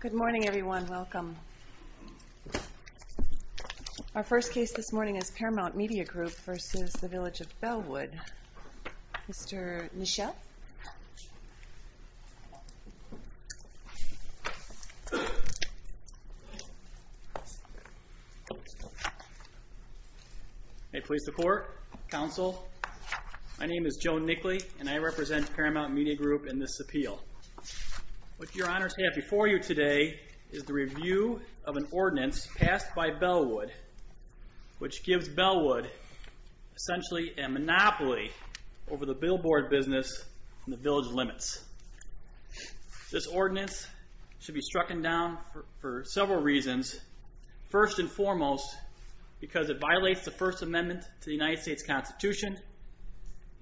Good morning, everyone. Welcome. Our first case this morning is Paramount Media Group v. Village of Bellwood. Mr. Nischel? I please support, counsel. My name is Joe Nickley, and I represent Paramount Media Group in this appeal. What your honors have before you today is the review of an ordinance passed by Bellwood, which gives Bellwood essentially a monopoly over the billboard business in the Village of Limits. This ordinance should be strucken down for several reasons. First and foremost, because it violates the First Amendment to the United States Constitution,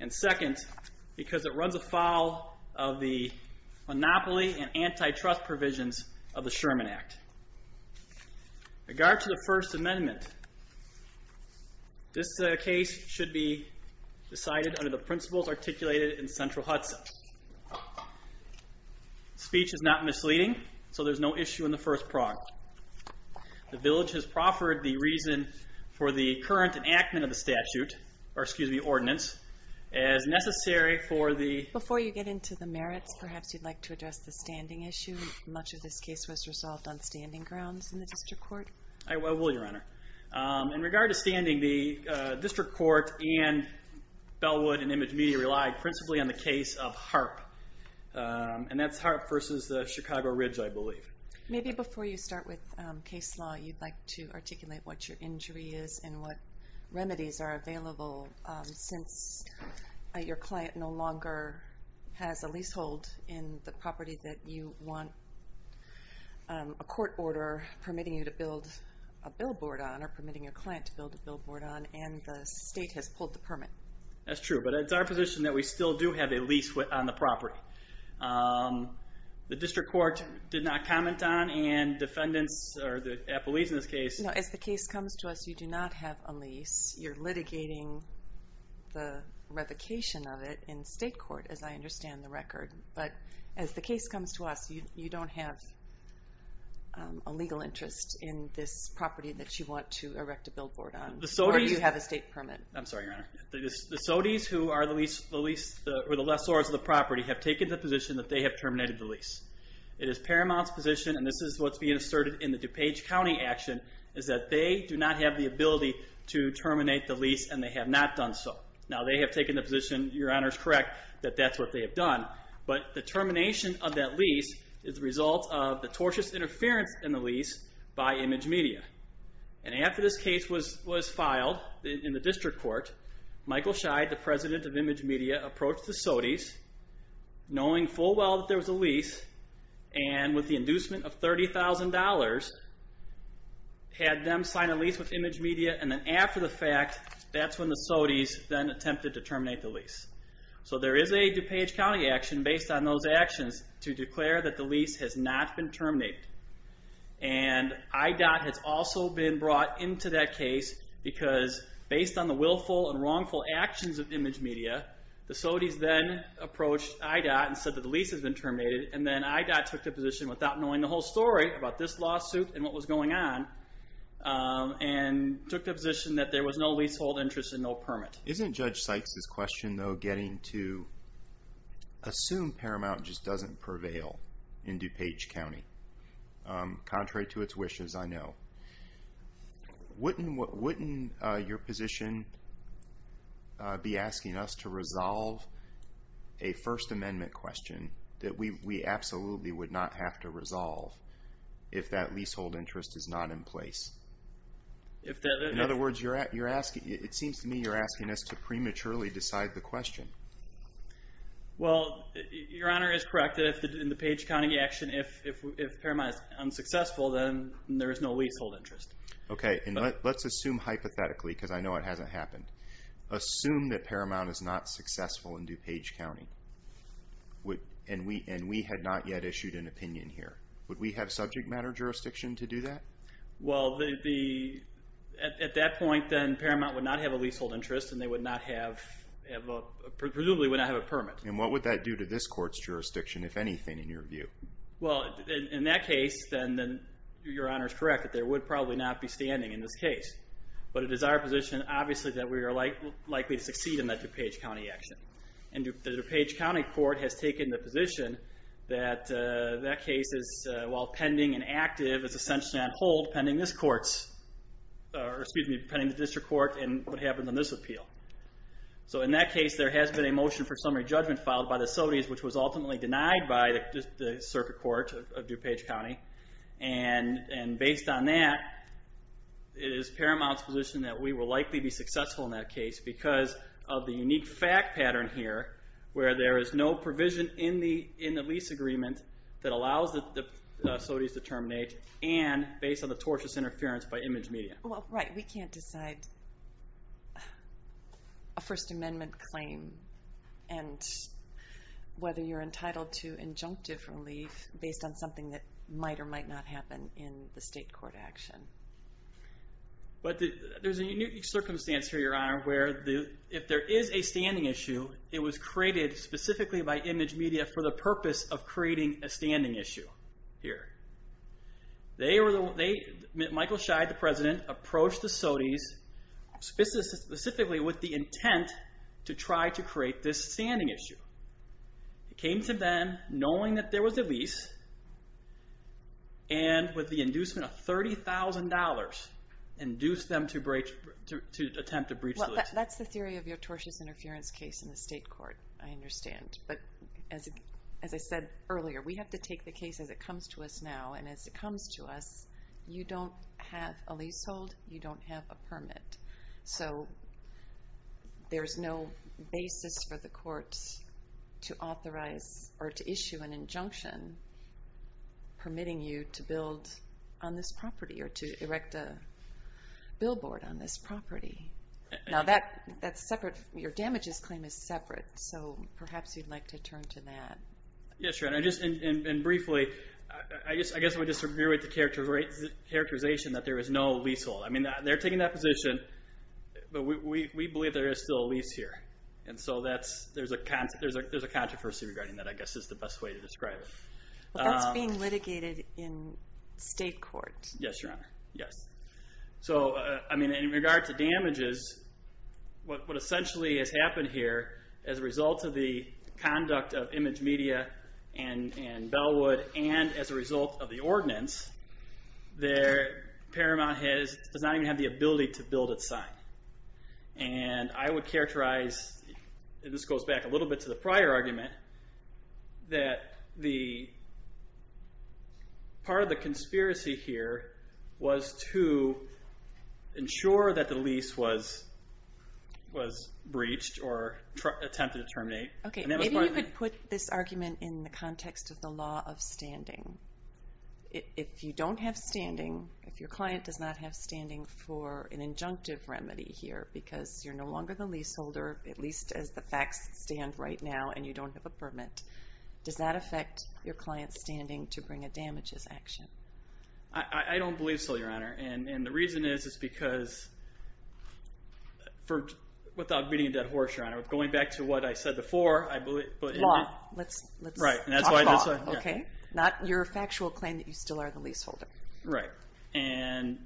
and second, because it runs afoul of the monopoly and antitrust provisions of the Sherman Act. In regard to the First Amendment, this case should be decided under the principles articulated in Central Hudson. Speech is not misleading, so there's no issue in the first prog. The Village has proffered the reason for the current enactment of the ordinance as necessary for the- Before you get into the merits, perhaps you'd like to address the standing issue. Much of this case was resolved on standing grounds in the district court. I will, your honor. In regard to standing, the district court and Bellwood and Image Media relied principally on the case of HAARP, and that's HAARP v. the Chicago Ridge, I believe. Maybe before you start with case law, you'd like to articulate what your injury is and what remedies are available since your client no longer has a leasehold in the property that you want a court order permitting you to build a billboard on or permitting your client to build a billboard on, and the state has pulled the permit. That's true, but it's our position that we still do have a lease on the property. The district court did not comment on, and defendants, or the appellees in this case- As the case comes to us, you do not have a lease. You're litigating the revocation of it in state court, as I understand the record. But as the case comes to us, you don't have a legal interest in this property that you want to erect a billboard on. Or you have a state permit. I'm sorry, your honor. The SOTYs, who are the lessors of the property, have taken the position that they have terminated the lease. It is Paramount's position, and this is what's being asserted in the DuPage County action, is that they do not have the ability to terminate the lease, and they have not done so. Now, they have taken the position, your honor is correct, that that's what they have done. But the termination of that lease is the result of the tortious interference in the lease by Image Media. And after this case was filed in the district court, Michael Scheid, the president of Image Media, approached the SOTYs, knowing full well that there was a lease, and with the inducement of $30,000, had them sign a lease with Image Media, and then after the fact, that's when the SOTYs then attempted to terminate the lease. So there is a DuPage County action based on those actions to declare that the lease has not been terminated. And IDOT has also been brought into that case, because based on the willful and wrongful actions of Image Media, the SOTYs then approached IDOT and said that the lease has been terminated, and then IDOT took the position, without knowing the whole story about this lawsuit and what was going on, and took the position that there was no leasehold interest and no permit. Isn't Judge Sykes' question, though, getting to assume Paramount just doesn't prevail in DuPage County? Contrary to its wishes, I know. Wouldn't your position be asking us to resolve a First Amendment question that we absolutely would not have to resolve if that leasehold interest is not in place? In other words, it seems to me you're asking us to prematurely decide the question. Well, Your Honor is correct that in the DuPage County action, if Paramount is unsuccessful, then there is no leasehold interest. Okay, and let's assume hypothetically, because I know it hasn't happened. Assume that Paramount is not successful in DuPage County, and we had not yet issued an opinion here. Would we have subject matter jurisdiction to do that? Well, at that point, then, Paramount would not have a leasehold interest, and they would not have a permit. And what would that do to this court's jurisdiction, if anything, in your view? Well, in that case, then, Your Honor is correct, that they would probably not be standing in this case. But it is our position, obviously, that we are likely to succeed in that DuPage County action. And the DuPage County court has taken the position that that case is, while pending and active, is essentially on hold pending this court's, or excuse me, pending the district court, and what happens on this appeal. So in that case, there has been a motion for summary judgment filed by the Sodies, which was ultimately denied by the circuit court of DuPage County. And based on that, it is Paramount's position that we will likely be successful in that case because of the unique fact pattern here, where there is no provision in the lease agreement that allows the Sodies to terminate, and based on the tortious interference by image media. Well, right, we can't decide a First Amendment claim, and whether you're entitled to injunctive relief based on something that might or might not happen in the state court action. But there's a unique circumstance here, Your Honor, where if there is a standing issue, it was created specifically by image media for the purpose of creating a standing issue here. Michael Scheid, the president, approached the Sodies specifically with the intent to try to create this standing issue. It came to them, knowing that there was a lease, and with the inducement of $30,000, induced them to attempt to breach the lease. Well, that's the theory of your tortious interference case in the state court, I understand. But as I said earlier, we have to take the case as it comes to us now, and as it comes to us, you don't have a leasehold, you don't have a permit. So there's no basis for the courts to authorize or to issue an injunction permitting you to build on this property or to erect a billboard on this property. Now that's separate, your damages claim is separate, so perhaps you'd like to turn to that. Yes, Your Honor, and briefly, I guess I would just reiterate the characterization that there is no leasehold. I mean, they're taking that position, but we believe there is still a lease here. And so there's a controversy regarding that, I guess is the best way to describe it. That's being litigated in state court. Yes, Your Honor, yes. So, I mean, in regard to damages, what essentially has happened here, as a result of the conduct of Image Media and Bellwood, and as a result of the ordinance, Paramount does not even have the ability to build its sign. And I would characterize, and this goes back a little bit to the prior argument, that part of the conspiracy here was to ensure that the lease was breached or attempted to terminate. Okay, maybe you could put this argument in the context of the law of standing. If you don't have standing, if your client does not have standing for an injunctive remedy here, because you're no longer the leaseholder, at least as the facts stand right now, and you don't have a permit, does that affect your client's standing to bring a damages action? I don't believe so, Your Honor. And the reason is because, without beating a dead horse, Your Honor, going back to what I said before, I believe... Let's talk law, okay? Not your factual claim that you still are the leaseholder. Right. And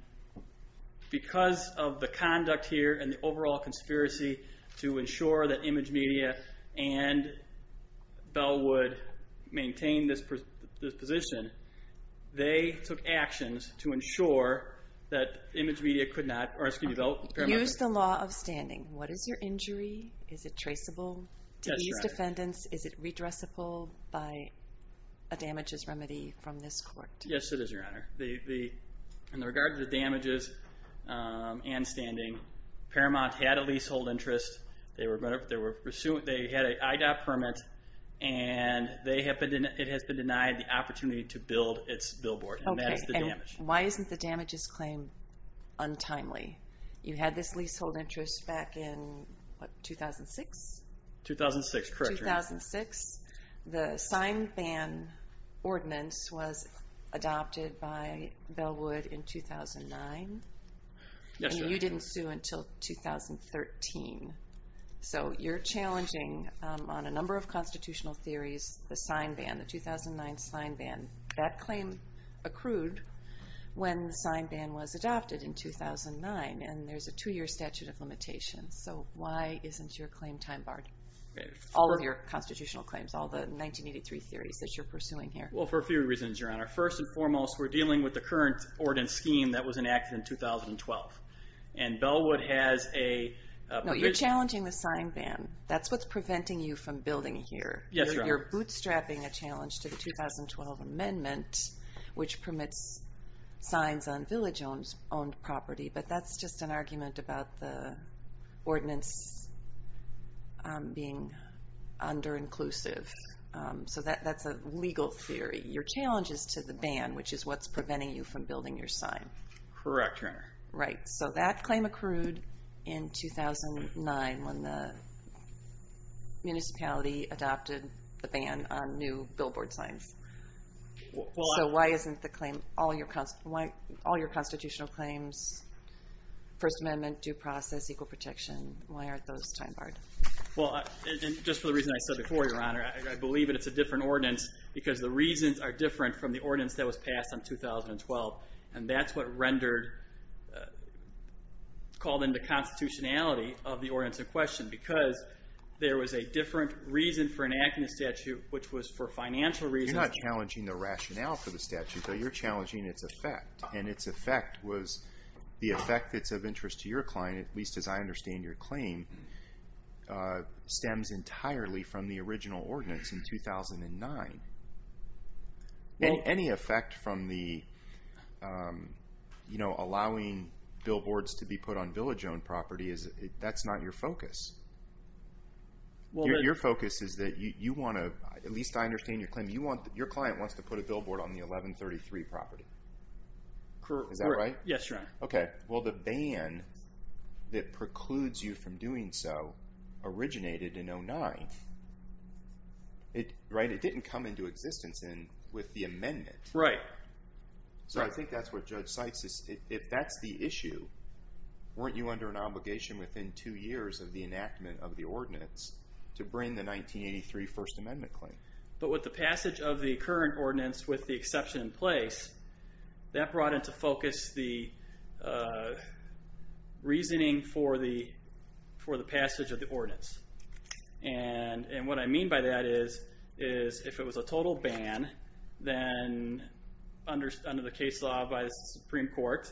because of the conduct here and the overall conspiracy to ensure that Image Media and Bellwood maintained this position, they took actions to ensure that Paramount... Use the law of standing. What is your injury? Is it traceable to these defendants? Is it redressable by a damages remedy from this court? Yes, it is, Your Honor. In regard to the damages and standing, Paramount had a leasehold interest. They had an IDOT permit, and it has been denied the opportunity to build its billboard. Okay, and why isn't the damages claim untimely? You had this leasehold interest back in, what, 2006? 2006, correct, Your Honor. 2006. The sign-ban ordinance was adopted by Bellwood in 2009. Yes, Your Honor. And you didn't sue until 2013. So you're challenging, on a number of constitutional theories, the sign-ban, the 2009 sign-ban. That claim accrued when the sign-ban was adopted in 2009, and there's a two-year statute of limitations. So why isn't your claim time-barred? All of your constitutional claims, all the 1983 theories that you're pursuing here. Well, for a few reasons, Your Honor. First and foremost, we're dealing with the current ordinance scheme that was enacted in 2012. And Bellwood has a provision. No, you're challenging the sign-ban. That's what's preventing you from building here. Yes, Your Honor. You're bootstrapping a challenge to the 2012 amendment, which permits signs on village-owned property, but that's just an argument about the ordinance being under-inclusive. So that's a legal theory. Your challenge is to the ban, which is what's preventing you from building your sign. Correct, Your Honor. Right. So that claim accrued in 2009 when the municipality adopted the ban on new billboard signs. So why isn't all your constitutional claims, First Amendment, due process, equal protection, why aren't those time-barred? Well, just for the reason I said before, Your Honor, I believe it's a different ordinance because the reasons are different from the ordinance that was passed in 2012. And that's what called into constitutionality of the ordinance in question You're not challenging the rationale for the statute, though. You're challenging its effect. And its effect was the effect that's of interest to your client, at least as I understand your claim, stems entirely from the original ordinance in 2009. Any effect from allowing billboards to be put on village-owned property, that's not your focus. Your focus is that you want to, at least I understand your claim, your client wants to put a billboard on the 1133 property. Correct. Is that right? Yes, Your Honor. Okay. Well, the ban that precludes you from doing so originated in 2009. Right? It didn't come into existence with the amendment. Right. So I think that's what Judge Seitz is, if that's the issue, weren't you under an obligation within two years of the enactment of the ordinance to bring the 1983 First Amendment claim? But with the passage of the current ordinance with the exception in place, that brought into focus the reasoning for the passage of the ordinance. And what I mean by that is if it was a total ban, then under the case law by the Supreme Court,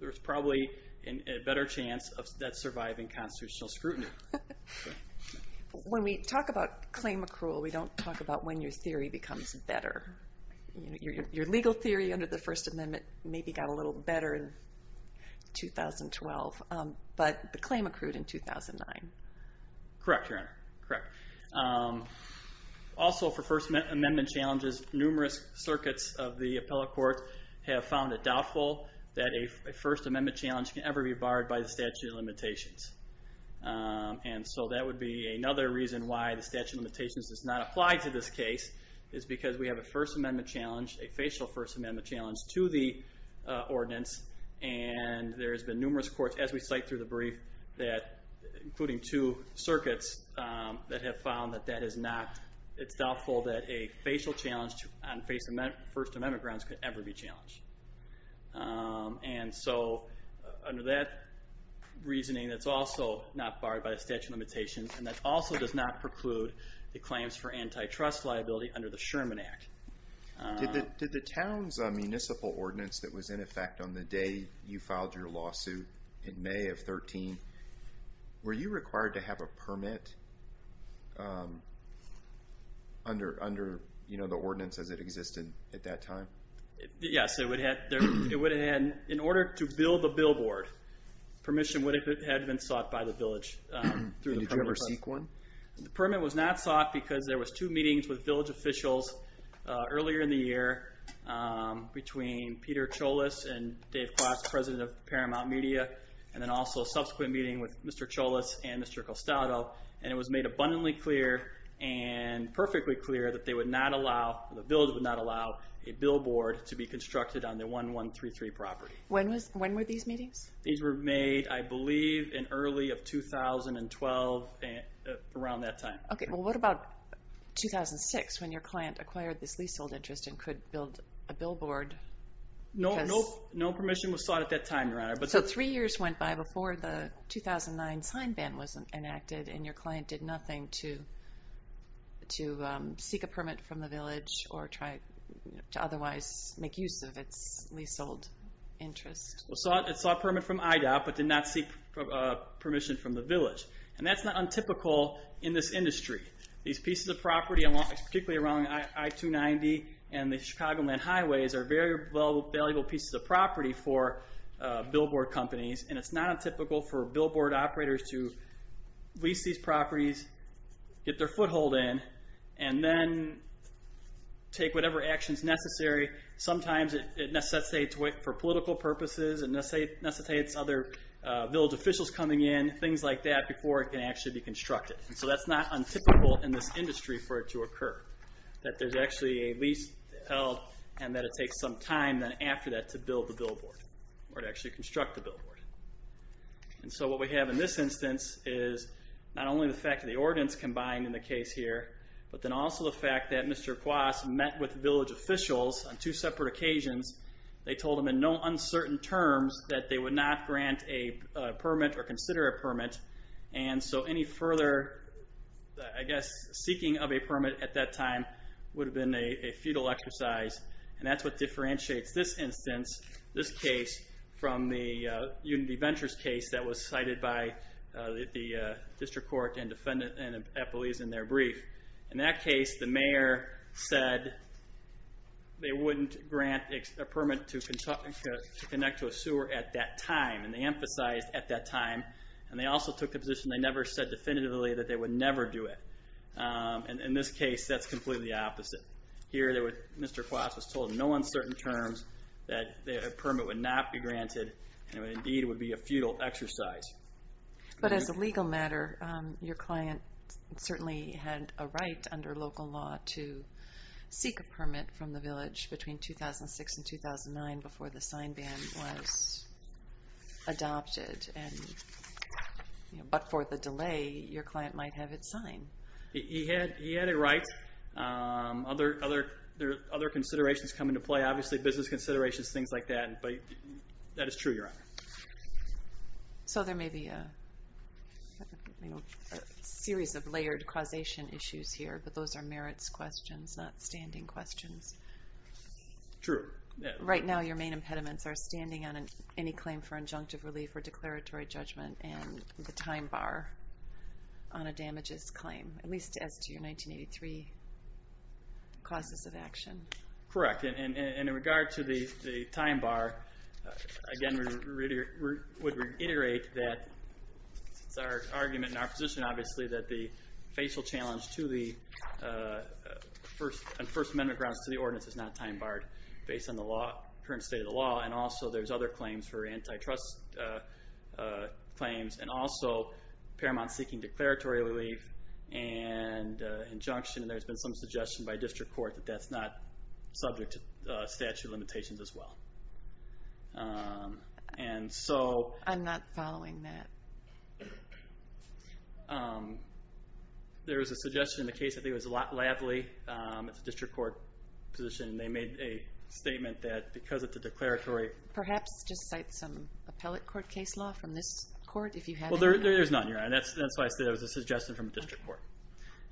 there's probably a better chance of that surviving constitutional scrutiny. When we talk about claim accrual, we don't talk about when your theory becomes better. Your legal theory under the First Amendment maybe got a little better in 2012, but the claim accrued in 2009. Correct, Your Honor. Correct. Also for First Amendment challenges, numerous circuits of the appellate court have found it doubtful that a First Amendment challenge can ever be barred by the statute of limitations. And so that would be another reason why the statute of limitations does not apply to this case, is because we have a First Amendment challenge, a facial First Amendment challenge to the ordinance, and there's been numerous courts, as we cite through the brief, including two circuits that have found that that is not, it's doubtful that a facial challenge on First Amendment grounds could ever be challenged. And so under that reasoning, it's also not barred by the statute of limitations, and that also does not preclude the claims for antitrust liability under the Sherman Act. Did the town's municipal ordinance that was in effect on the day you filed your lawsuit in May of 13, were you required to have a permit under the ordinance as it existed at that time? Yes, it would have had, in order to build the billboard, permission would have been sought by the village. Did you ever seek one? The permit was not sought because there was two meetings with village officials earlier in the year between Peter Cholos and Dave Cross, president of Paramount Media, and then also a subsequent meeting with Mr. Cholos and Mr. Costato, and it was made abundantly clear and perfectly clear that they would not allow, the village would not allow, a billboard to be constructed on their 1133 property. When were these meetings? These were made, I believe, in early of 2012, around that time. Okay, well what about 2006, when your client acquired this leasehold interest and could build a billboard? No permission was sought at that time, Your Honor. So three years went by before the 2009 sign ban was enacted and your client did nothing to seek a permit from the village or try to otherwise make use of its leasehold interest. It sought a permit from IDOP but did not seek permission from the village. And that's not untypical in this industry. These pieces of property, particularly around I-290 and the Chicagoland highways, are very valuable pieces of property for billboard companies, and it's not untypical for billboard operators to lease these properties, get their foothold in, and then take whatever action is necessary. Sometimes it necessitates, for political purposes, it necessitates other village officials coming in, things like that, before it can actually be constructed. So that's not untypical in this industry for it to occur, that there's actually a lease held and that it takes some time then after that to build the billboard or to actually construct the billboard. And so what we have in this instance is not only the fact that the ordinance combined in the case here, but then also the fact that Mr. Kwas met with village officials on two separate occasions. They told him in no uncertain terms that they would not grant a permit or consider a permit, and so any further, I guess, seeking of a permit at that time would have been a futile exercise, and that's what differentiates this instance, this case, from the Unity Ventures case that was cited by the district court and defendants and employees in their brief. In that case, the mayor said they wouldn't grant a permit to connect to a sewer at that time, and they emphasized at that time, and they also took the position they never said definitively that they would never do it. In this case, that's completely the opposite. Here, Mr. Kwas was told in no uncertain terms that a permit would not be granted and indeed would be a futile exercise. But as a legal matter, your client certainly had a right under local law to seek a permit from the village between 2006 and 2009 before the sign ban was adopted. But for the delay, your client might have it signed. He had it right. Other considerations come into play, obviously business considerations, things like that, but that is true, Your Honor. So there may be a series of layered causation issues here, but those are merits questions, not standing questions. True. Right now your main impediments are standing on any claim for injunctive relief or declaratory judgment and the time bar on a damages claim, at least as to your 1983 causes of action. Correct. And in regard to the time bar, again we would reiterate that it's our argument and our position, obviously, that the facial challenge to the First Amendment grounds to the ordinance is not time barred based on the current state of the law, and also there's other claims for antitrust claims, and also Paramount seeking declaratory relief and injunction, and there's been some suggestion by district court that that's not subject to statute limitations as well. I'm not following that. There was a suggestion in the case, I think it was Lavely, it's a district court position, and they made a statement that because of the declaratory... Perhaps just cite some appellate court case law from this court if you have it. There's none, Your Honor, and that's why I said it was a suggestion from district court.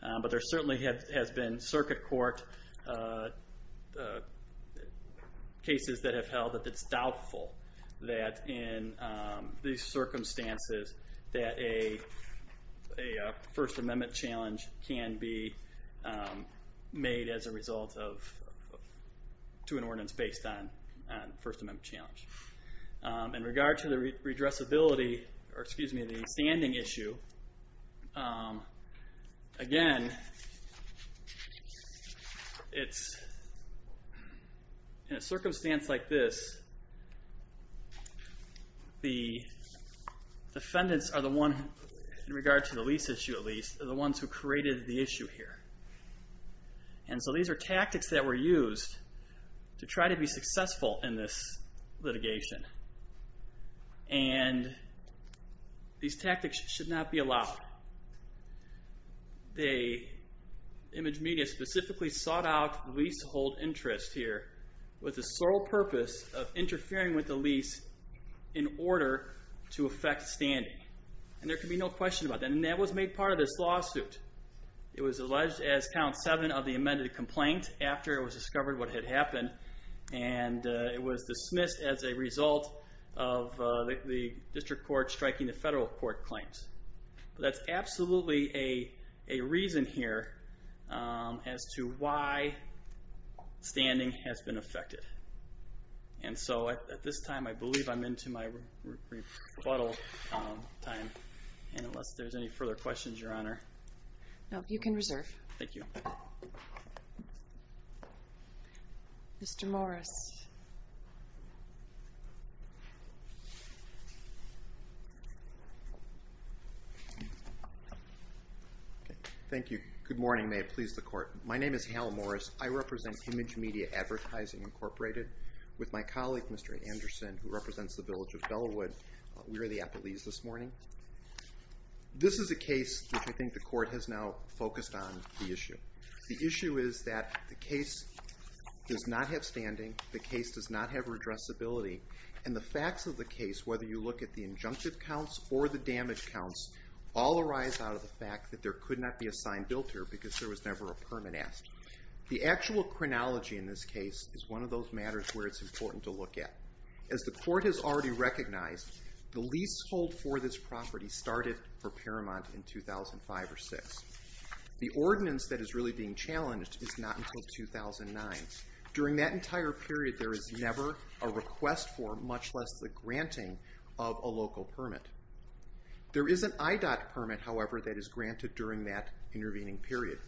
But there certainly has been circuit court cases that have held that it's doubtful that in these circumstances that a First Amendment challenge can be made as a result to an ordinance based on a First Amendment challenge. In regard to the standing issue, again, in a circumstance like this, the defendants are the ones, in regard to the lease issue at least, are the ones who created the issue here. And so these are tactics that were used to try to be successful in this litigation, and these tactics should not be allowed. The image media specifically sought out the lease to hold interest here with the sole purpose of interfering with the lease in order to affect standing. And there can be no question about that, and that was made part of this lawsuit. It was alleged as Count 7 of the amended complaint after it was discovered what had happened, and it was dismissed as a result of the district court striking the federal court claims. That's absolutely a reason here as to why standing has been affected. And so at this time, I believe I'm into my rebuttal time. And unless there's any further questions, Your Honor. No, you can reserve. Thank you. Mr. Morris. Thank you. Good morning. May it please the court. My name is Hal Morris. I represent Image Media Advertising Incorporated with my colleague, Mr. Anderson, who represents the village of Bellewood. We were the appellees this morning. This is a case which I think the court has now The issue is that the case does not have standing, and the court has not decided the case does not have redressability, and the facts of the case, whether you look at the injunctive counts or the damage counts, all arise out of the fact that there could not be a sign built here because there was never a permit asked. The actual chronology in this case is one of those matters where it's important to look at. As the court has already recognized, the leasehold for this property started for Paramount in 2005 or 2006. The ordinance that is really being challenged is not until 2009. During that entire period, there is never a request for, much less the granting of a local permit. There is an IDOT permit, however, that is granted during that intervening period.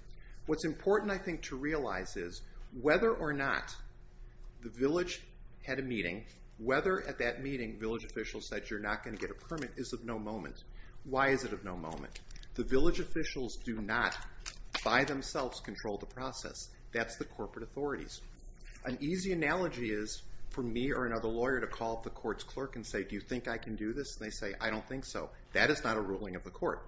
What's important, I think, to realize is whether or not the village had a meeting, whether at that meeting village officials said you're not going to get a permit, is of no moment. Why is it of no moment? The village officials do not, by themselves, control the process. That's the corporate authorities. An easy analogy is for me or another lawyer to call up the court's clerk and say, do you think I can do this? They say, I don't think so. That is not a ruling of the court.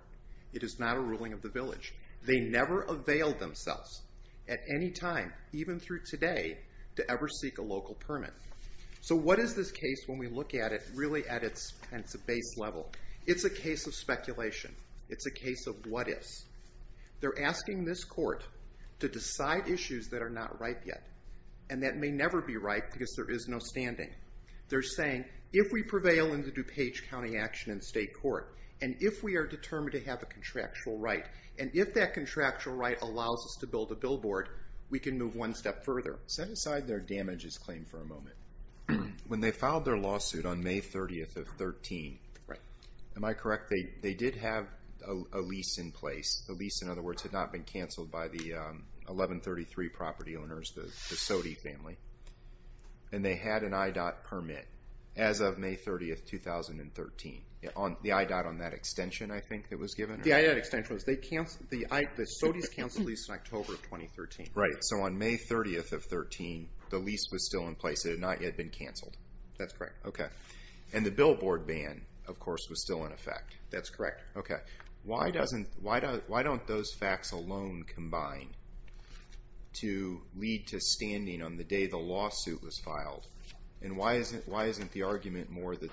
It is not a ruling of the village. They never availed themselves at any time, even through today, to ever seek a local permit. So what is this case when we look at it really at its base level? It's a case of speculation. It's a case of what-ifs. They're asking this court to decide issues that are not right yet, and that may never be right because there is no standing. They're saying, if we prevail in the DuPage County action in state court, and if we are determined to have a contractual right, and if that contractual right allows us to build a billboard, we can move one step further. Set aside their damages claim for a moment. When they filed their lawsuit on May 30th of 13, am I correct? They did have a lease in place. The lease, in other words, had not been canceled by the 1133 property owners, the Sode family, and they had an IDOT permit as of May 30th, 2013. The IDOT on that extension, I think, that was given? The IDOT extension was. The Sode's canceled the lease in October of 2013. Right. So on May 30th of 13, the lease was still in place. It had not yet been canceled. That's correct. Okay. And the billboard ban, of course, was still in effect. That's correct. Okay. Why don't those facts alone combine to lead to standing on the day the lawsuit was filed, and why isn't the argument more that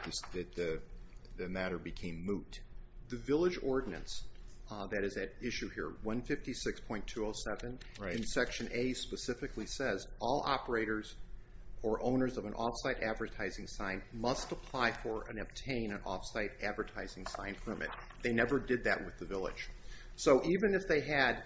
the matter became moot? The village ordinance that is at issue here, 156.207, in Section A specifically says, all operators or owners of an off-site advertising sign must apply for and obtain an off-site advertising sign permit. They never did that with the village. So even if they had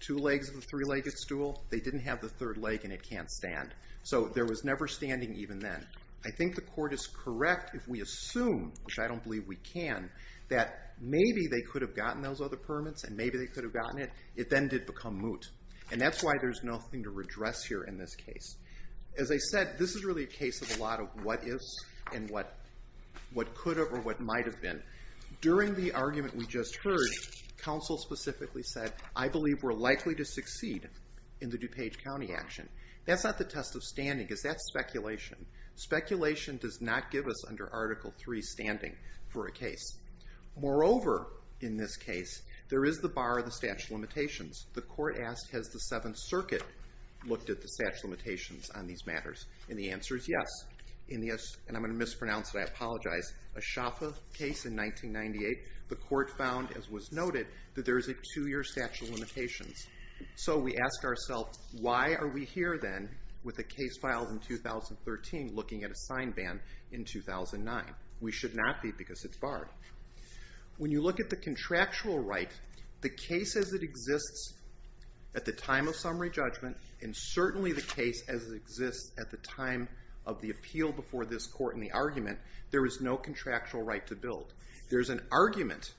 two legs of the three-legged stool, they didn't have the third leg and it can't stand. So there was never standing even then. I think the court is correct if we assume, which I don't believe we can, that maybe they could have gotten those other permits and maybe they could have gotten it. It then did become moot. And that's why there's nothing to redress here in this case. As I said, this is really a case of a lot of what is and what could have or what might have been. During the argument we just heard, counsel specifically said, I believe we're likely to succeed in the DuPage County action. That's not the test of standing. That's speculation. Speculation does not give us, under Article III, standing for a case. Moreover, in this case, there is the bar of the statute of limitations. The court asked, has the Seventh Circuit looked at the statute of limitations on these matters? And the answer is yes. And I'm going to mispronounce it. I apologize. A Shaffa case in 1998, the court found, as was noted, that there is a two-year statute of limitations. So we ask ourselves, why are we here then with a case filed in 2013 looking at a sign ban in 2009? We should not be because it's barred. When you look at the contractual right, the case as it exists at the time of summary judgment and certainly the case as it exists at the time of the appeal before this court in the argument, there is no contractual right to build. There's an argument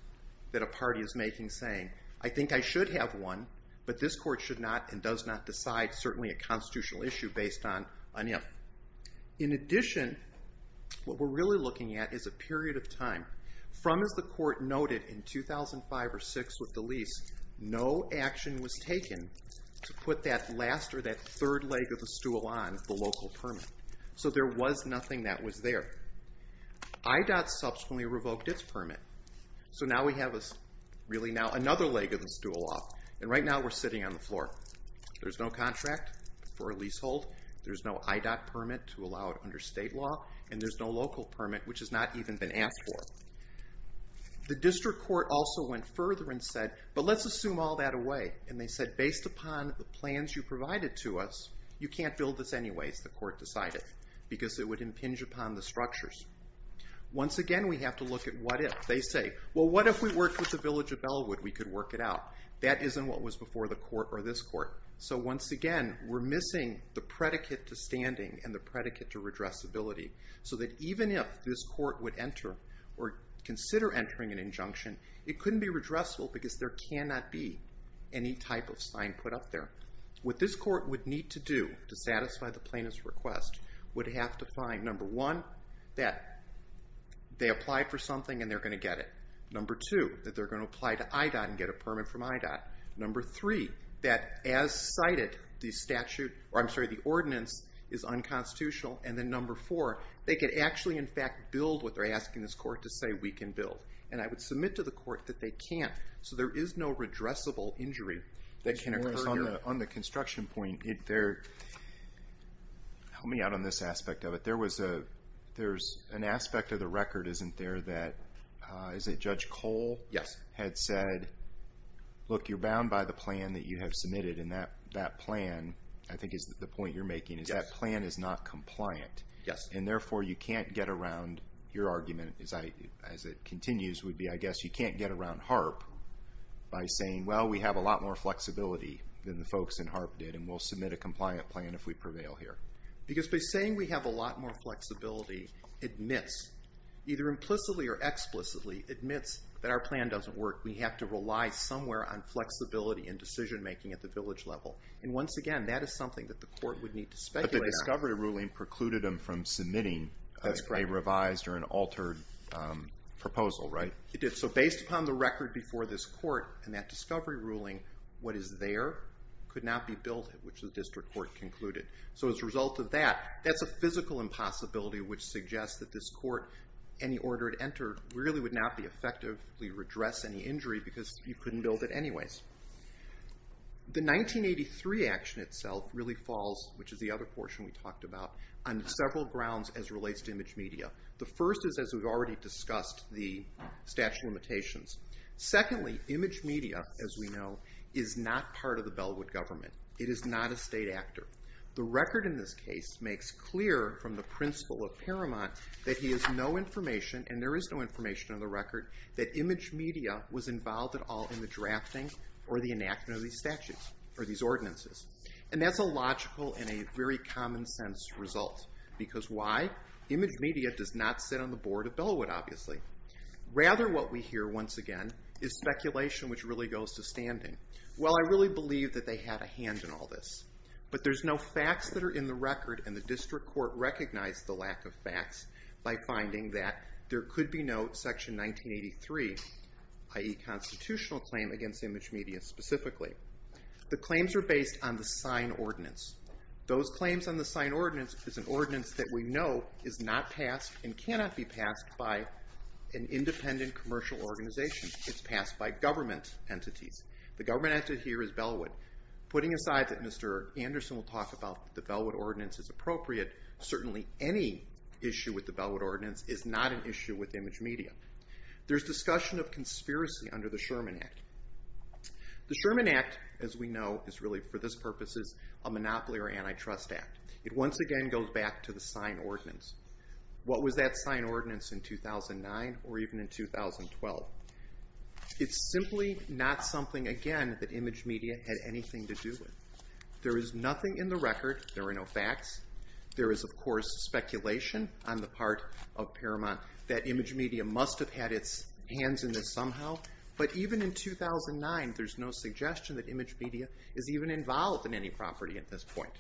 that a party is making saying, I think I should have one, but this court should not and does not decide, certainly a constitutional issue based on him. In addition, what we're really looking at is a period of time. From as the court noted in 2005 or 2006 with the lease, no action was taken to put that last or that third leg of the stool on the local permit. So there was nothing that was there. IDOT subsequently revoked its permit. So now we have really now another leg of the stool off, and right now we're sitting on the floor. There's no contract for a leasehold. There's no IDOT permit to allow it under state law, and there's no local permit, which has not even been asked for. The district court also went further and said, but let's assume all that away, and they said based upon the plans you provided to us, you can't build this anyways, the court decided, because it would impinge upon the structures. Once again, we have to look at what if. They say, well, what if we worked with the village of Bellwood? We could work it out. That isn't what was before the court or this court. So once again, we're missing the predicate to standing and the predicate to redressability, so that even if this court would enter or consider entering an injunction, it couldn't be redressable because there cannot be any type of sign put up there. What this court would need to do to satisfy the plaintiff's request would have to find, number one, that they applied for something and they're going to get it. Number two, that they're going to apply to IDOT and get a permit from IDOT. Number three, that as cited, the statute, or I'm sorry, the ordinance is unconstitutional. And then number four, they could actually, in fact, build what they're asking this court to say we can build. And I would submit to the court that they can't. So there is no redressable injury that can occur here. On the construction point, help me out on this aspect of it. There's an aspect of the record, isn't there, that Judge Cole had said, look, you're bound by the plan that you have submitted, and that plan, I think is the point you're making, is that plan is not compliant. And therefore, you can't get around your argument, as it continues, would be I guess you can't get around HAARP by saying, well, we have a lot more flexibility than the folks in HAARP did, and we'll submit a compliant plan if we prevail here. Because by saying we have a lot more flexibility admits, either implicitly or explicitly, admits that our plan doesn't work. We have to rely somewhere on flexibility and decision-making at the village level. And once again, that is something that the court would need to speculate on. But the discovery ruling precluded them from submitting a revised or an altered proposal, right? It did. So based upon the record before this court and that discovery ruling, what is there could not be built, which the district court concluded. So as a result of that, that's a physical impossibility which suggests that this court, any order it entered, really would not be effectively redress any injury because you couldn't build it anyways. The 1983 action itself really falls, which is the other portion we talked about, on several grounds as relates to image media. The first is, as we've already discussed, the statute of limitations. Secondly, image media, as we know, is not part of the Bellwood government. It is not a state actor. The record in this case makes clear from the principle of Paramount that he has no information, and there is no information on the record, that image media was involved at all in the drafting or the enactment of these statutes, or these ordinances. And that's a logical and a very common-sense result. Because why? Image media does not sit on the board of Bellwood, obviously. Rather, what we hear, once again, is speculation which really goes to standing. Well, I really believe that they had a hand in all this. But there's no facts that are in the record, and the district court recognized the lack of facts by finding that there could be no Section 1983, i.e. constitutional claim against image media specifically. The claims are based on the sign ordinance. Those claims on the sign ordinance is an ordinance that we know is not passed and cannot be passed by an independent commercial organization. It's passed by government entities. The government entity here is Bellwood. Putting aside that Mr. Anderson will talk about that the Bellwood ordinance is appropriate, certainly any issue with the Bellwood ordinance is not an issue with image media. There's discussion of conspiracy under the Sherman Act. The Sherman Act, as we know, is really, for this purposes, a monopoly or antitrust act. It once again goes back to the sign ordinance. What was that sign ordinance in 2009 or even in 2012? It's simply not something, again, that image media had anything to do with. There is nothing in the record, there are no facts, there is, of course, speculation on the part of Paramount that image media must have had its hands in this somehow. But even in 2009, there's no suggestion that image media is even involved in any property at this point.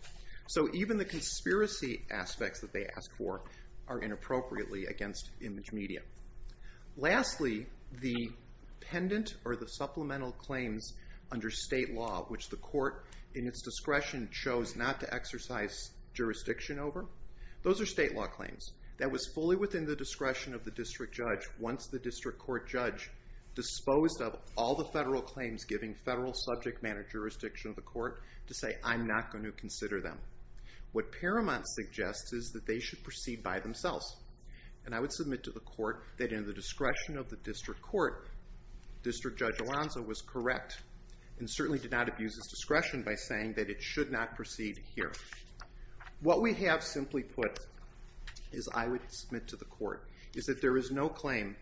So even the conspiracy aspects that they ask for are inappropriately against image media. Lastly, the pendant or the supplemental claims under state law, which the court, in its discretion, chose not to exercise jurisdiction over, those are state law claims. That was fully within the discretion of the district judge once the district court judge disposed of all the federal claims giving federal subject matter jurisdiction of the court to say, I'm not going to consider them. What Paramount suggests is that they should proceed by themselves. And I would submit to the court that in the discretion of the district court, District Judge Alonzo was correct and certainly did not abuse his discretion by saying that it should not proceed here. What we have simply put, as I would submit to the court, is that there is no claim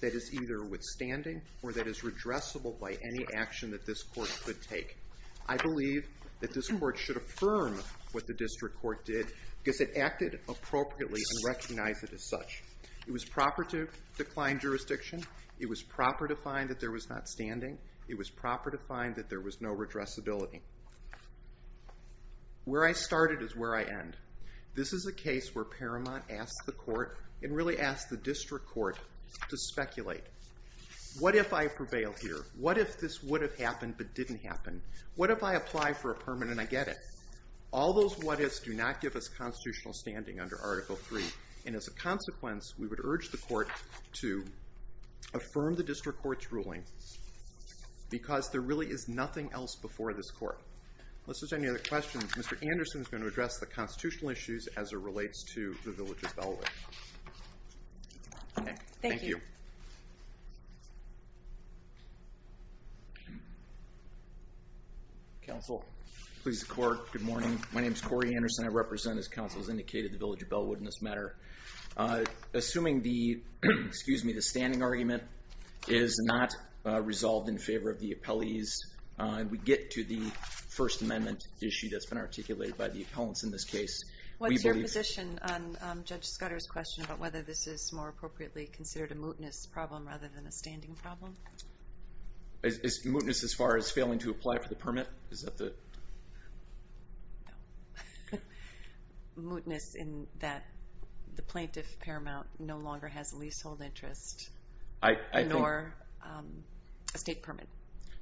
that is either withstanding or that is redressable by any action that this court could take. I believe that this court should affirm what the district court did because it acted appropriately and recognized it as such. It was proper to decline jurisdiction. It was proper to find that there was not standing. It was proper to find that there was no redressability. Where I started is where I end. This is a case where Paramount asked the court and really asked the district court to speculate. What if I prevail here? What if this would have happened but didn't happen? What if I apply for a permanent? I get it. All those what-ifs do not give us constitutional standing under Article III. And as a consequence, we would urge the court to affirm the district court's ruling because there really is nothing else before this court. Unless there's any other questions, Mr. Anderson is going to address the constitutional issues as it relates to the Village of Bellwood. Thank you. Counsel, please record. Good morning. My name is Corey Anderson. I represent, as counsel has indicated, the Village of Bellwood in this matter. Assuming the standing argument is not resolved in favor of the appellees, we get to the First Amendment issue that's been articulated by the appellants in this case. What's your position on Judge Scudder's question about whether this is more appropriately considered a mootness problem rather than a standing problem? Is mootness as far as failing to apply for the permit? Mootness in that the plaintiff, Paramount, no longer has a leasehold interest, nor a state permit.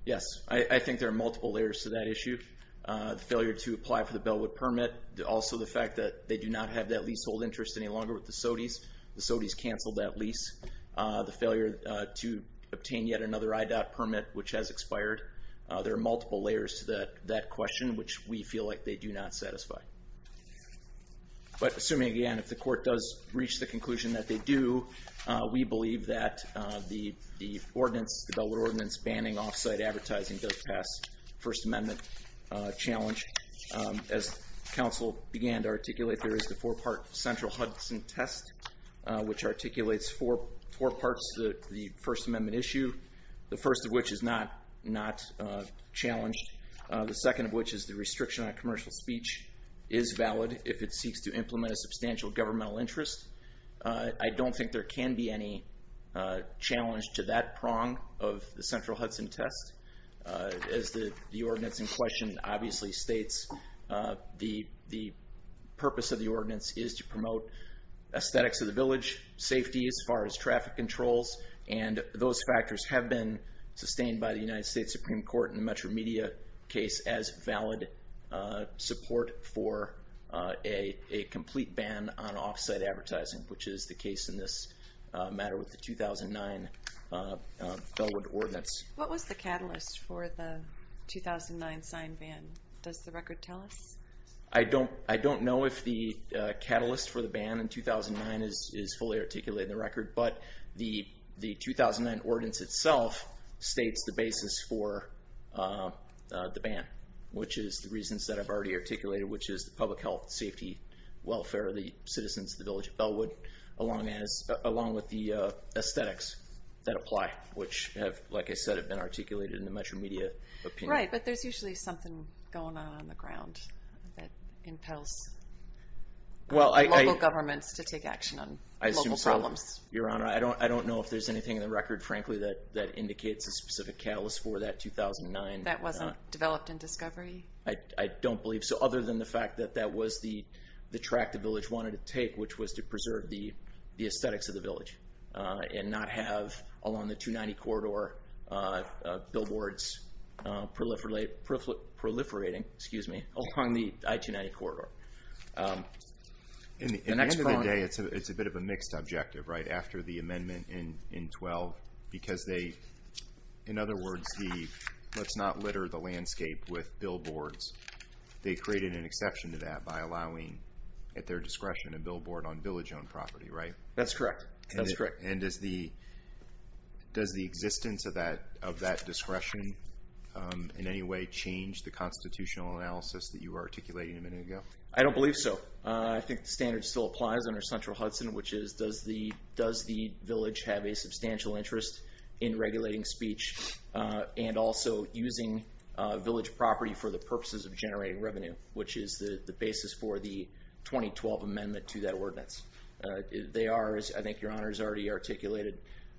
Yes, I think there are multiple layers to that issue. The failure to apply for the Bellwood permit, also the fact that they do not have that leasehold interest any longer with the SOTYs. The SOTYs canceled that lease. The failure to obtain yet another IDOT permit, which has expired. There are multiple layers to that question, which we feel like they do not satisfy. But assuming, again, if the court does reach the conclusion that they do, we believe that the ordinance, the Bellwood ordinance banning off-site advertising does pass the First Amendment challenge. As counsel began to articulate, there is the four-part central Hudson test, which articulates four parts of the First Amendment issue, the first of which is not challenged, the second of which is the restriction on commercial speech is valid if it seeks to implement a substantial governmental interest. I don't think there can be any challenge to that prong of the central Hudson test. As the ordinance in question obviously states, the purpose of the ordinance is to promote aesthetics of the village, safety as far as traffic controls, and those factors have been sustained by the United States Supreme Court in the Metro Media case as valid support for a complete ban on off-site advertising, which is the case in this matter with the 2009 Bellwood ordinance. What was the catalyst for the 2009 signed ban? Does the record tell us? I don't know if the catalyst for the ban in 2009 is fully articulated in the record, but the 2009 ordinance itself states the basis for the ban, which is the reasons that I've already articulated, which is the public health, safety, welfare of the citizens of the village of Bellwood, along with the aesthetics that apply, which have, like I said, been articulated in the Metro Media opinion. Right, but there's usually something going on on the ground that impels local governments to take action on local problems. Your Honor, I don't know if there's anything in the record, frankly, that indicates a specific catalyst for that 2009... That wasn't developed in discovery? I don't believe so, other than the fact that that was the track the village wanted to take, which was to preserve the aesthetics of the village and not have, along the 290 corridor, billboards proliferating along the I-290 corridor. At the end of the day, it's a bit of a mixed objective, right, after the amendment in 12, because they, in other words, let's not litter the landscape with billboards. They created an exception to that by allowing, at their discretion, a billboard on village-owned property, right? That's correct. Does the existence of that discretion in any way change the constitutional analysis that you were articulating a minute ago? I don't believe so. I think the standard still applies under Central Hudson, which is does the village have a substantial interest in regulating speech and also using village property for the purposes of generating revenue, which is the basis for the 2012 amendment to that ordinance. They are, as I think Your Honor has already articulated,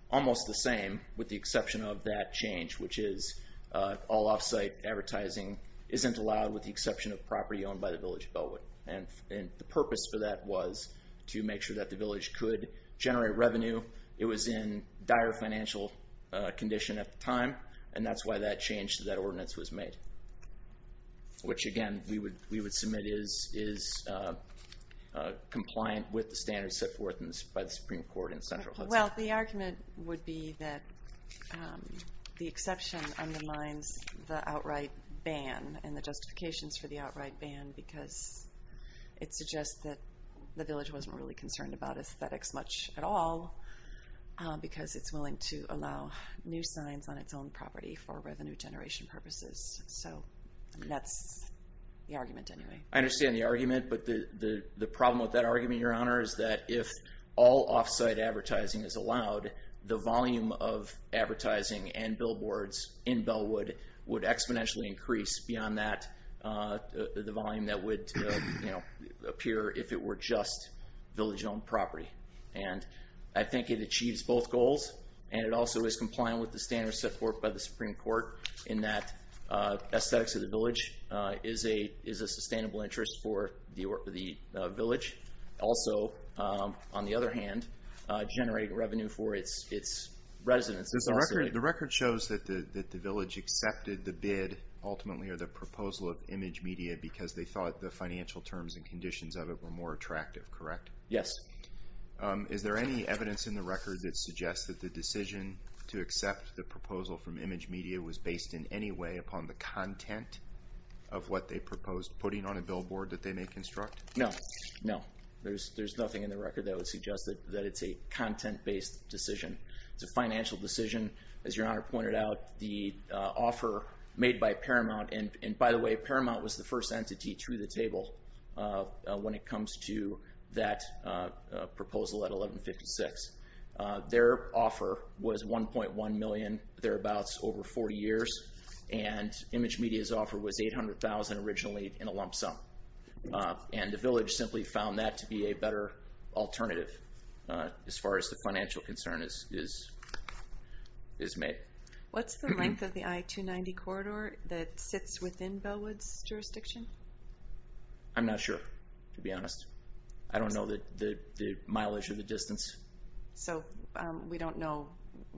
almost the same, with the exception of that change, which is all off-site advertising isn't allowed with the exception of property owned by the village of Bellwood. And the purpose for that was to make sure that the village could generate revenue. It was in dire financial condition at the time, and that's why that change to that ordinance was made. Which, again, we would submit is compliant with the standards set forth by the Supreme Court in Central Hudson. Well, the argument would be that the exception undermines the outright ban and the justifications for the outright ban because it suggests that the village wasn't really concerned about aesthetics much at all because it's willing to allow new signs on its own property for revenue generation purposes. So that's the argument anyway. I understand the argument, but the problem with that argument, Your Honor, is that if all off-site advertising is allowed, the volume of advertising and billboards in Bellwood would exponentially increase beyond the volume that would appear if it were just village-owned property. And I think it achieves both goals, and it also is compliant with the standards set forth by the Supreme Court in that aesthetics of the village is a sustainable interest for the village. Also, on the other hand, generate revenue for its residents. The record shows that the village accepted the bid ultimately or the proposal of Image Media because they thought the financial terms and conditions of it were more attractive, correct? Yes. Is there any evidence in the record that suggests that the decision to accept the proposal from Image Media was based in any way upon the content of what they proposed, putting on a billboard that they may construct? No. There's nothing in the record that would suggest that it's a content-based decision. It's a financial decision. As Your Honor pointed out, the offer made by Paramount, and by the way, Paramount was the first entity through the table when it comes to that proposal at 1156. Their offer was $1.1 million, thereabouts, over 40 years, and Image Media's offer was $800,000 originally in a lump sum. And the village simply found that to be a better alternative as far as the financial concern is made. What's the length of the I-290 corridor that sits within Bellwood's jurisdiction? I'm not sure, to be honest. I don't know the mileage or the distance. So we don't know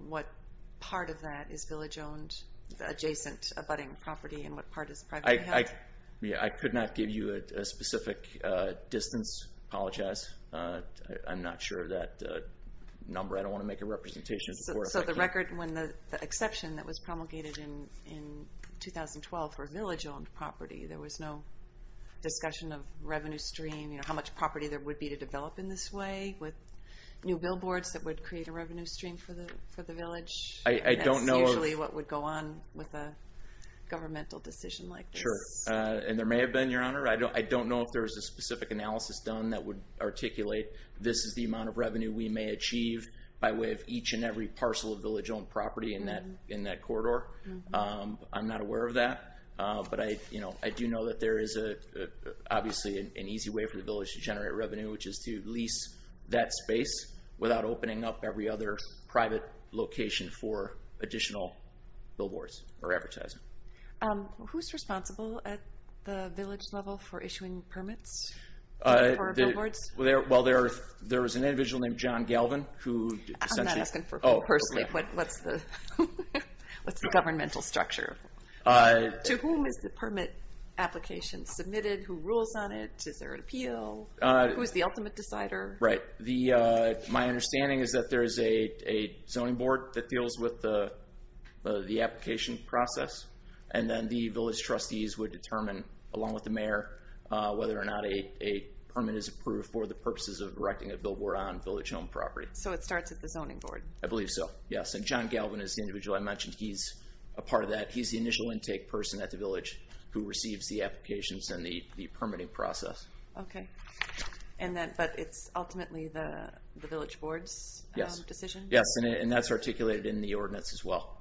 what part of that is village-owned adjacent abutting property and what part is privately held? I could not give you a specific distance. Apologize. I'm not sure of that number. I don't want to make a representation. So the exception that was promulgated in 2012 for village-owned property, there was no discussion of revenue stream, how much property there would be to develop in this way with new billboards that would create a revenue stream for the village? That's usually what would go on with a governmental decision like this. And there may have been, Your Honor. I don't know if there was a specific analysis done that would articulate this is the amount of revenue we may achieve by way of each and every parcel of village-owned property in that corridor. I'm not aware of that. But I do know that there is obviously an easy way for the village to generate revenue which is to lease that space without opening up every other private location for additional billboards or advertising. Who's responsible at the village level for issuing permits for our billboards? Well, there is an individual named John Galvin I'm not asking for him personally. What's the governmental structure? To whom is the permit application submitted? Who rules on it? Is there an appeal? Who is the ultimate decider? My understanding is that there is a zoning board that deals with the application process and then the village trustees would determine along with the mayor whether or not a permit is approved for the purposes of erecting a billboard on village-owned property. So it starts at the zoning board? I believe so, yes. John Galvin is the individual I mentioned. He's a part of that. He's the initial intake person at the village who receives the applications and the permitting process. But it's ultimately the village board's decision? Yes, and that's articulated in the ordinance as well.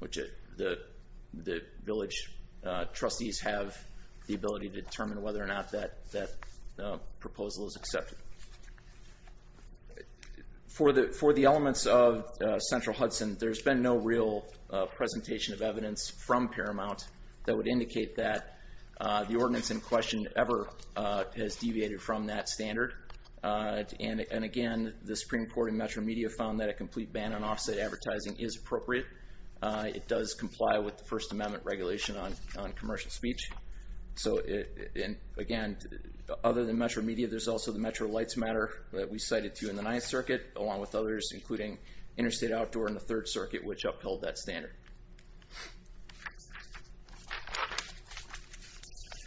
The village trustees have the ability to determine whether or not that proposal is accepted. For the elements of Central Hudson, there's been no real presentation of evidence from Paramount that would indicate that the ordinance in question ever has deviated from that standard. And again, the Supreme Court and Metro Media found that a complete ban on off-site advertising is appropriate. It does comply with the First Amendment regulation on commercial speech. So again, other than Metro Media, there's also the Metro Lights Matter that we cited to in the Ninth Circuit, along with others, including Interstate Outdoor in the Third Circuit, which upheld that standard.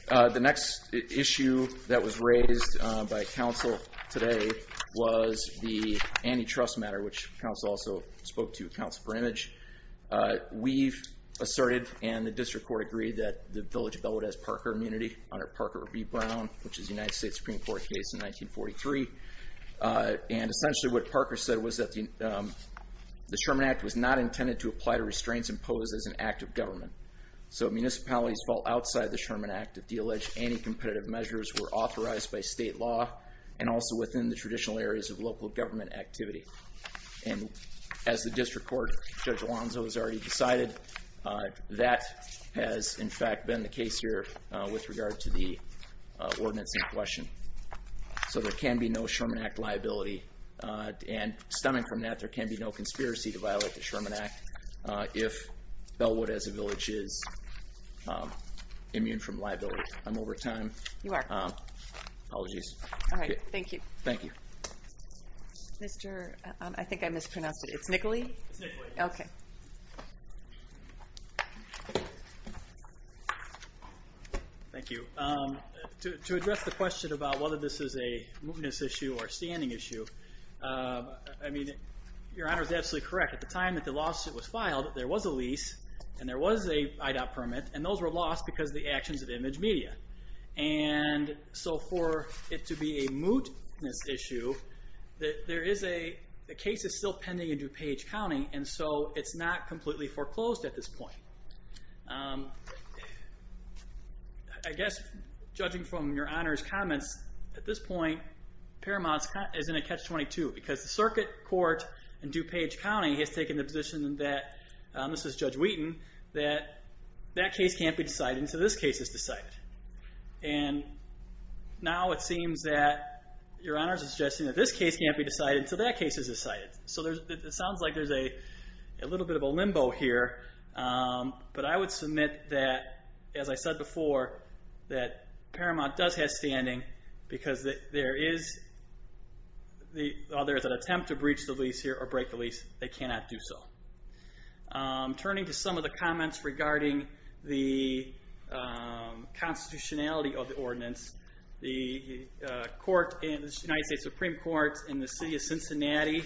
The next issue that was raised by Council today was the antitrust matter, which Council also spoke to at Council for Image. We've and the district court agreed that the village bill would have immunity under Parker v. Brown, which is a United States Supreme Court case in 1943. And essentially what Parker said was that the Sherman Act was not intended to apply to restraints imposed as an act of government. So municipalities fall outside the Sherman Act to de-allege any competitive measures were authorized by state law and also within the traditional areas of local government activity. And as the district court, Judge Alonzo, has already decided that has in fact been the case here with regard to the ordinance in question. So there can be no Sherman Act liability and stemming from that, there can be no conspiracy to violate the Sherman Act if Bellwood as a village is immune from liability. I'm over time. Apologies. Thank you. Thank you. I think I mispronounced it. It's Nickley? Okay. Thank you. To address the question about whether this is a mootness issue or a standing issue, Your Honor is absolutely correct. At the time that the lawsuit was filed, there was a lease and there was an IDOT permit and those were lost because of the actions of Image Media. And so for it to be a mootness issue, the case is still pending in DuPage County and so it's not completely foreclosed at this point. I guess judging from Your Honor's comments, at this point Paramount is in a catch-22 because the circuit court in DuPage County has taken the position that this is Judge Wheaton, that that case can't be decided until this case is decided. And now it seems that Your Honor is suggesting that this case can't be decided until that case is decided. So it sounds like there's a little bit of a limbo here. But I would submit that, as I said before, that Paramount does have standing because there is an attempt to breach the lease here or break the lease. They cannot do so. Turning to some of the comments regarding the constitutionality of the ordinance, the United States Supreme Court in the city of Cincinnati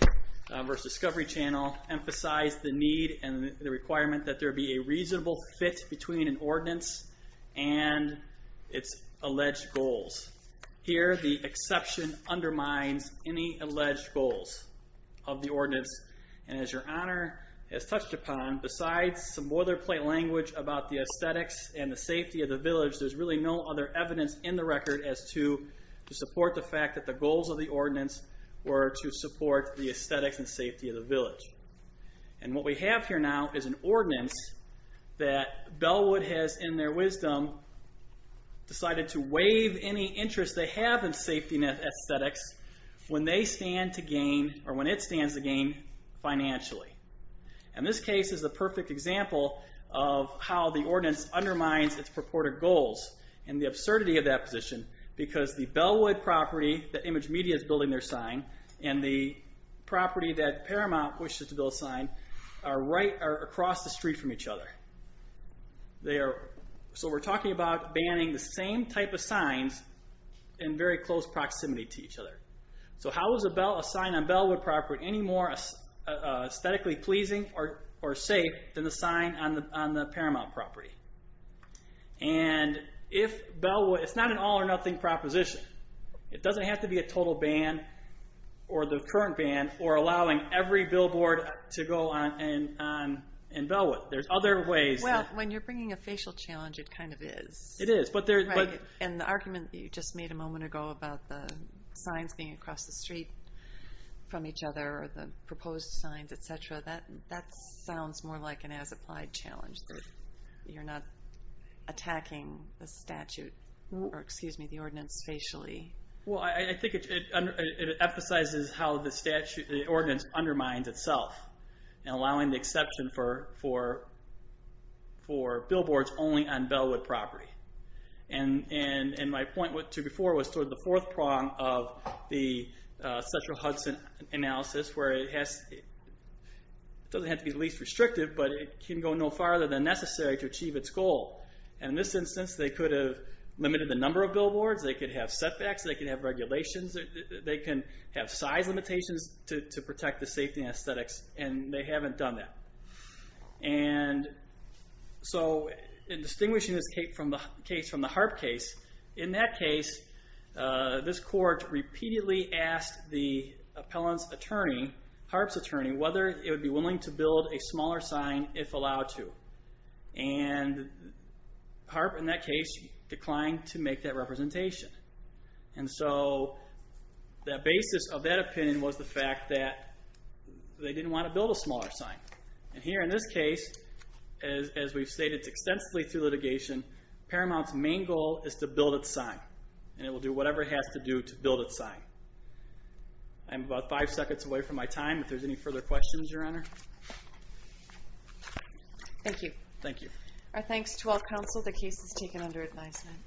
versus Discovery Channel emphasized the need and the requirement that there be a reasonable fit between an ordinance and its alleged goals. Here the exception undermines any alleged goals of the ordinance. And as Your Honor has touched upon, besides some boilerplate language about the aesthetics and the safety of the village, there's really no other evidence in the record as to support the fact that the goals of the ordinance were to support the aesthetics and safety of the village. And what we have here now is an ordinance that Bellwood has, in their wisdom, decided to waive any interest they have in safety and aesthetics when they stand to gain, or when it stands to gain financially. And this case is a perfect example of how the ordinance undermines its purported goals and the absurdity of that position because the Bellwood property that Image Media is building their sign and the property that Paramount wishes to build a sign are right across the street from each other. So we're talking about banning the same type of signs in very close proximity to each other. So how is a sign on Bellwood property any more aesthetically pleasing or safe than the sign on the Paramount property? And it's not an all or nothing proposition. It doesn't have to be a total ban or the current ban or allowing every billboard to go on in Bellwood. There's other ways... When you're bringing a facial challenge, it kind of is. And the argument that you just made a moment ago about the signs being across the street from each other or the proposed signs, etc., that sounds more like an as-applied challenge. You're not attacking the statute or, excuse me, the ordinance facially. I think it emphasizes how the ordinance undermines itself and allowing the exception for billboards only on Bellwood property. And my point to before was sort of the fourth prong of the central Hudson analysis where it doesn't have to be the least restrictive, but it can go no farther than necessary to achieve its goal. And in this instance, they could have limited the number of billboards, they could have setbacks, they could have regulations, they can have size limitations to protect the safety and aesthetics, and they haven't done that. And so, in distinguishing this case from the Harp case, in that case, this court repeatedly asked the appellant's attorney, Harp's attorney, whether it would be willing to build a smaller sign if allowed to. And Harp, in that case, declined to make that representation. And so, the basis of that opinion was the fact that they didn't want to build a smaller sign. And here, in this case, as we've stated extensively through litigation, Paramount's main goal is to build its sign. And it will do whatever it has to do to build its sign. I'm about five seconds away from my time if there's any further questions, Your Honor. Thank you. Thank you. Our thanks to all counsel. The case is taken under advisement.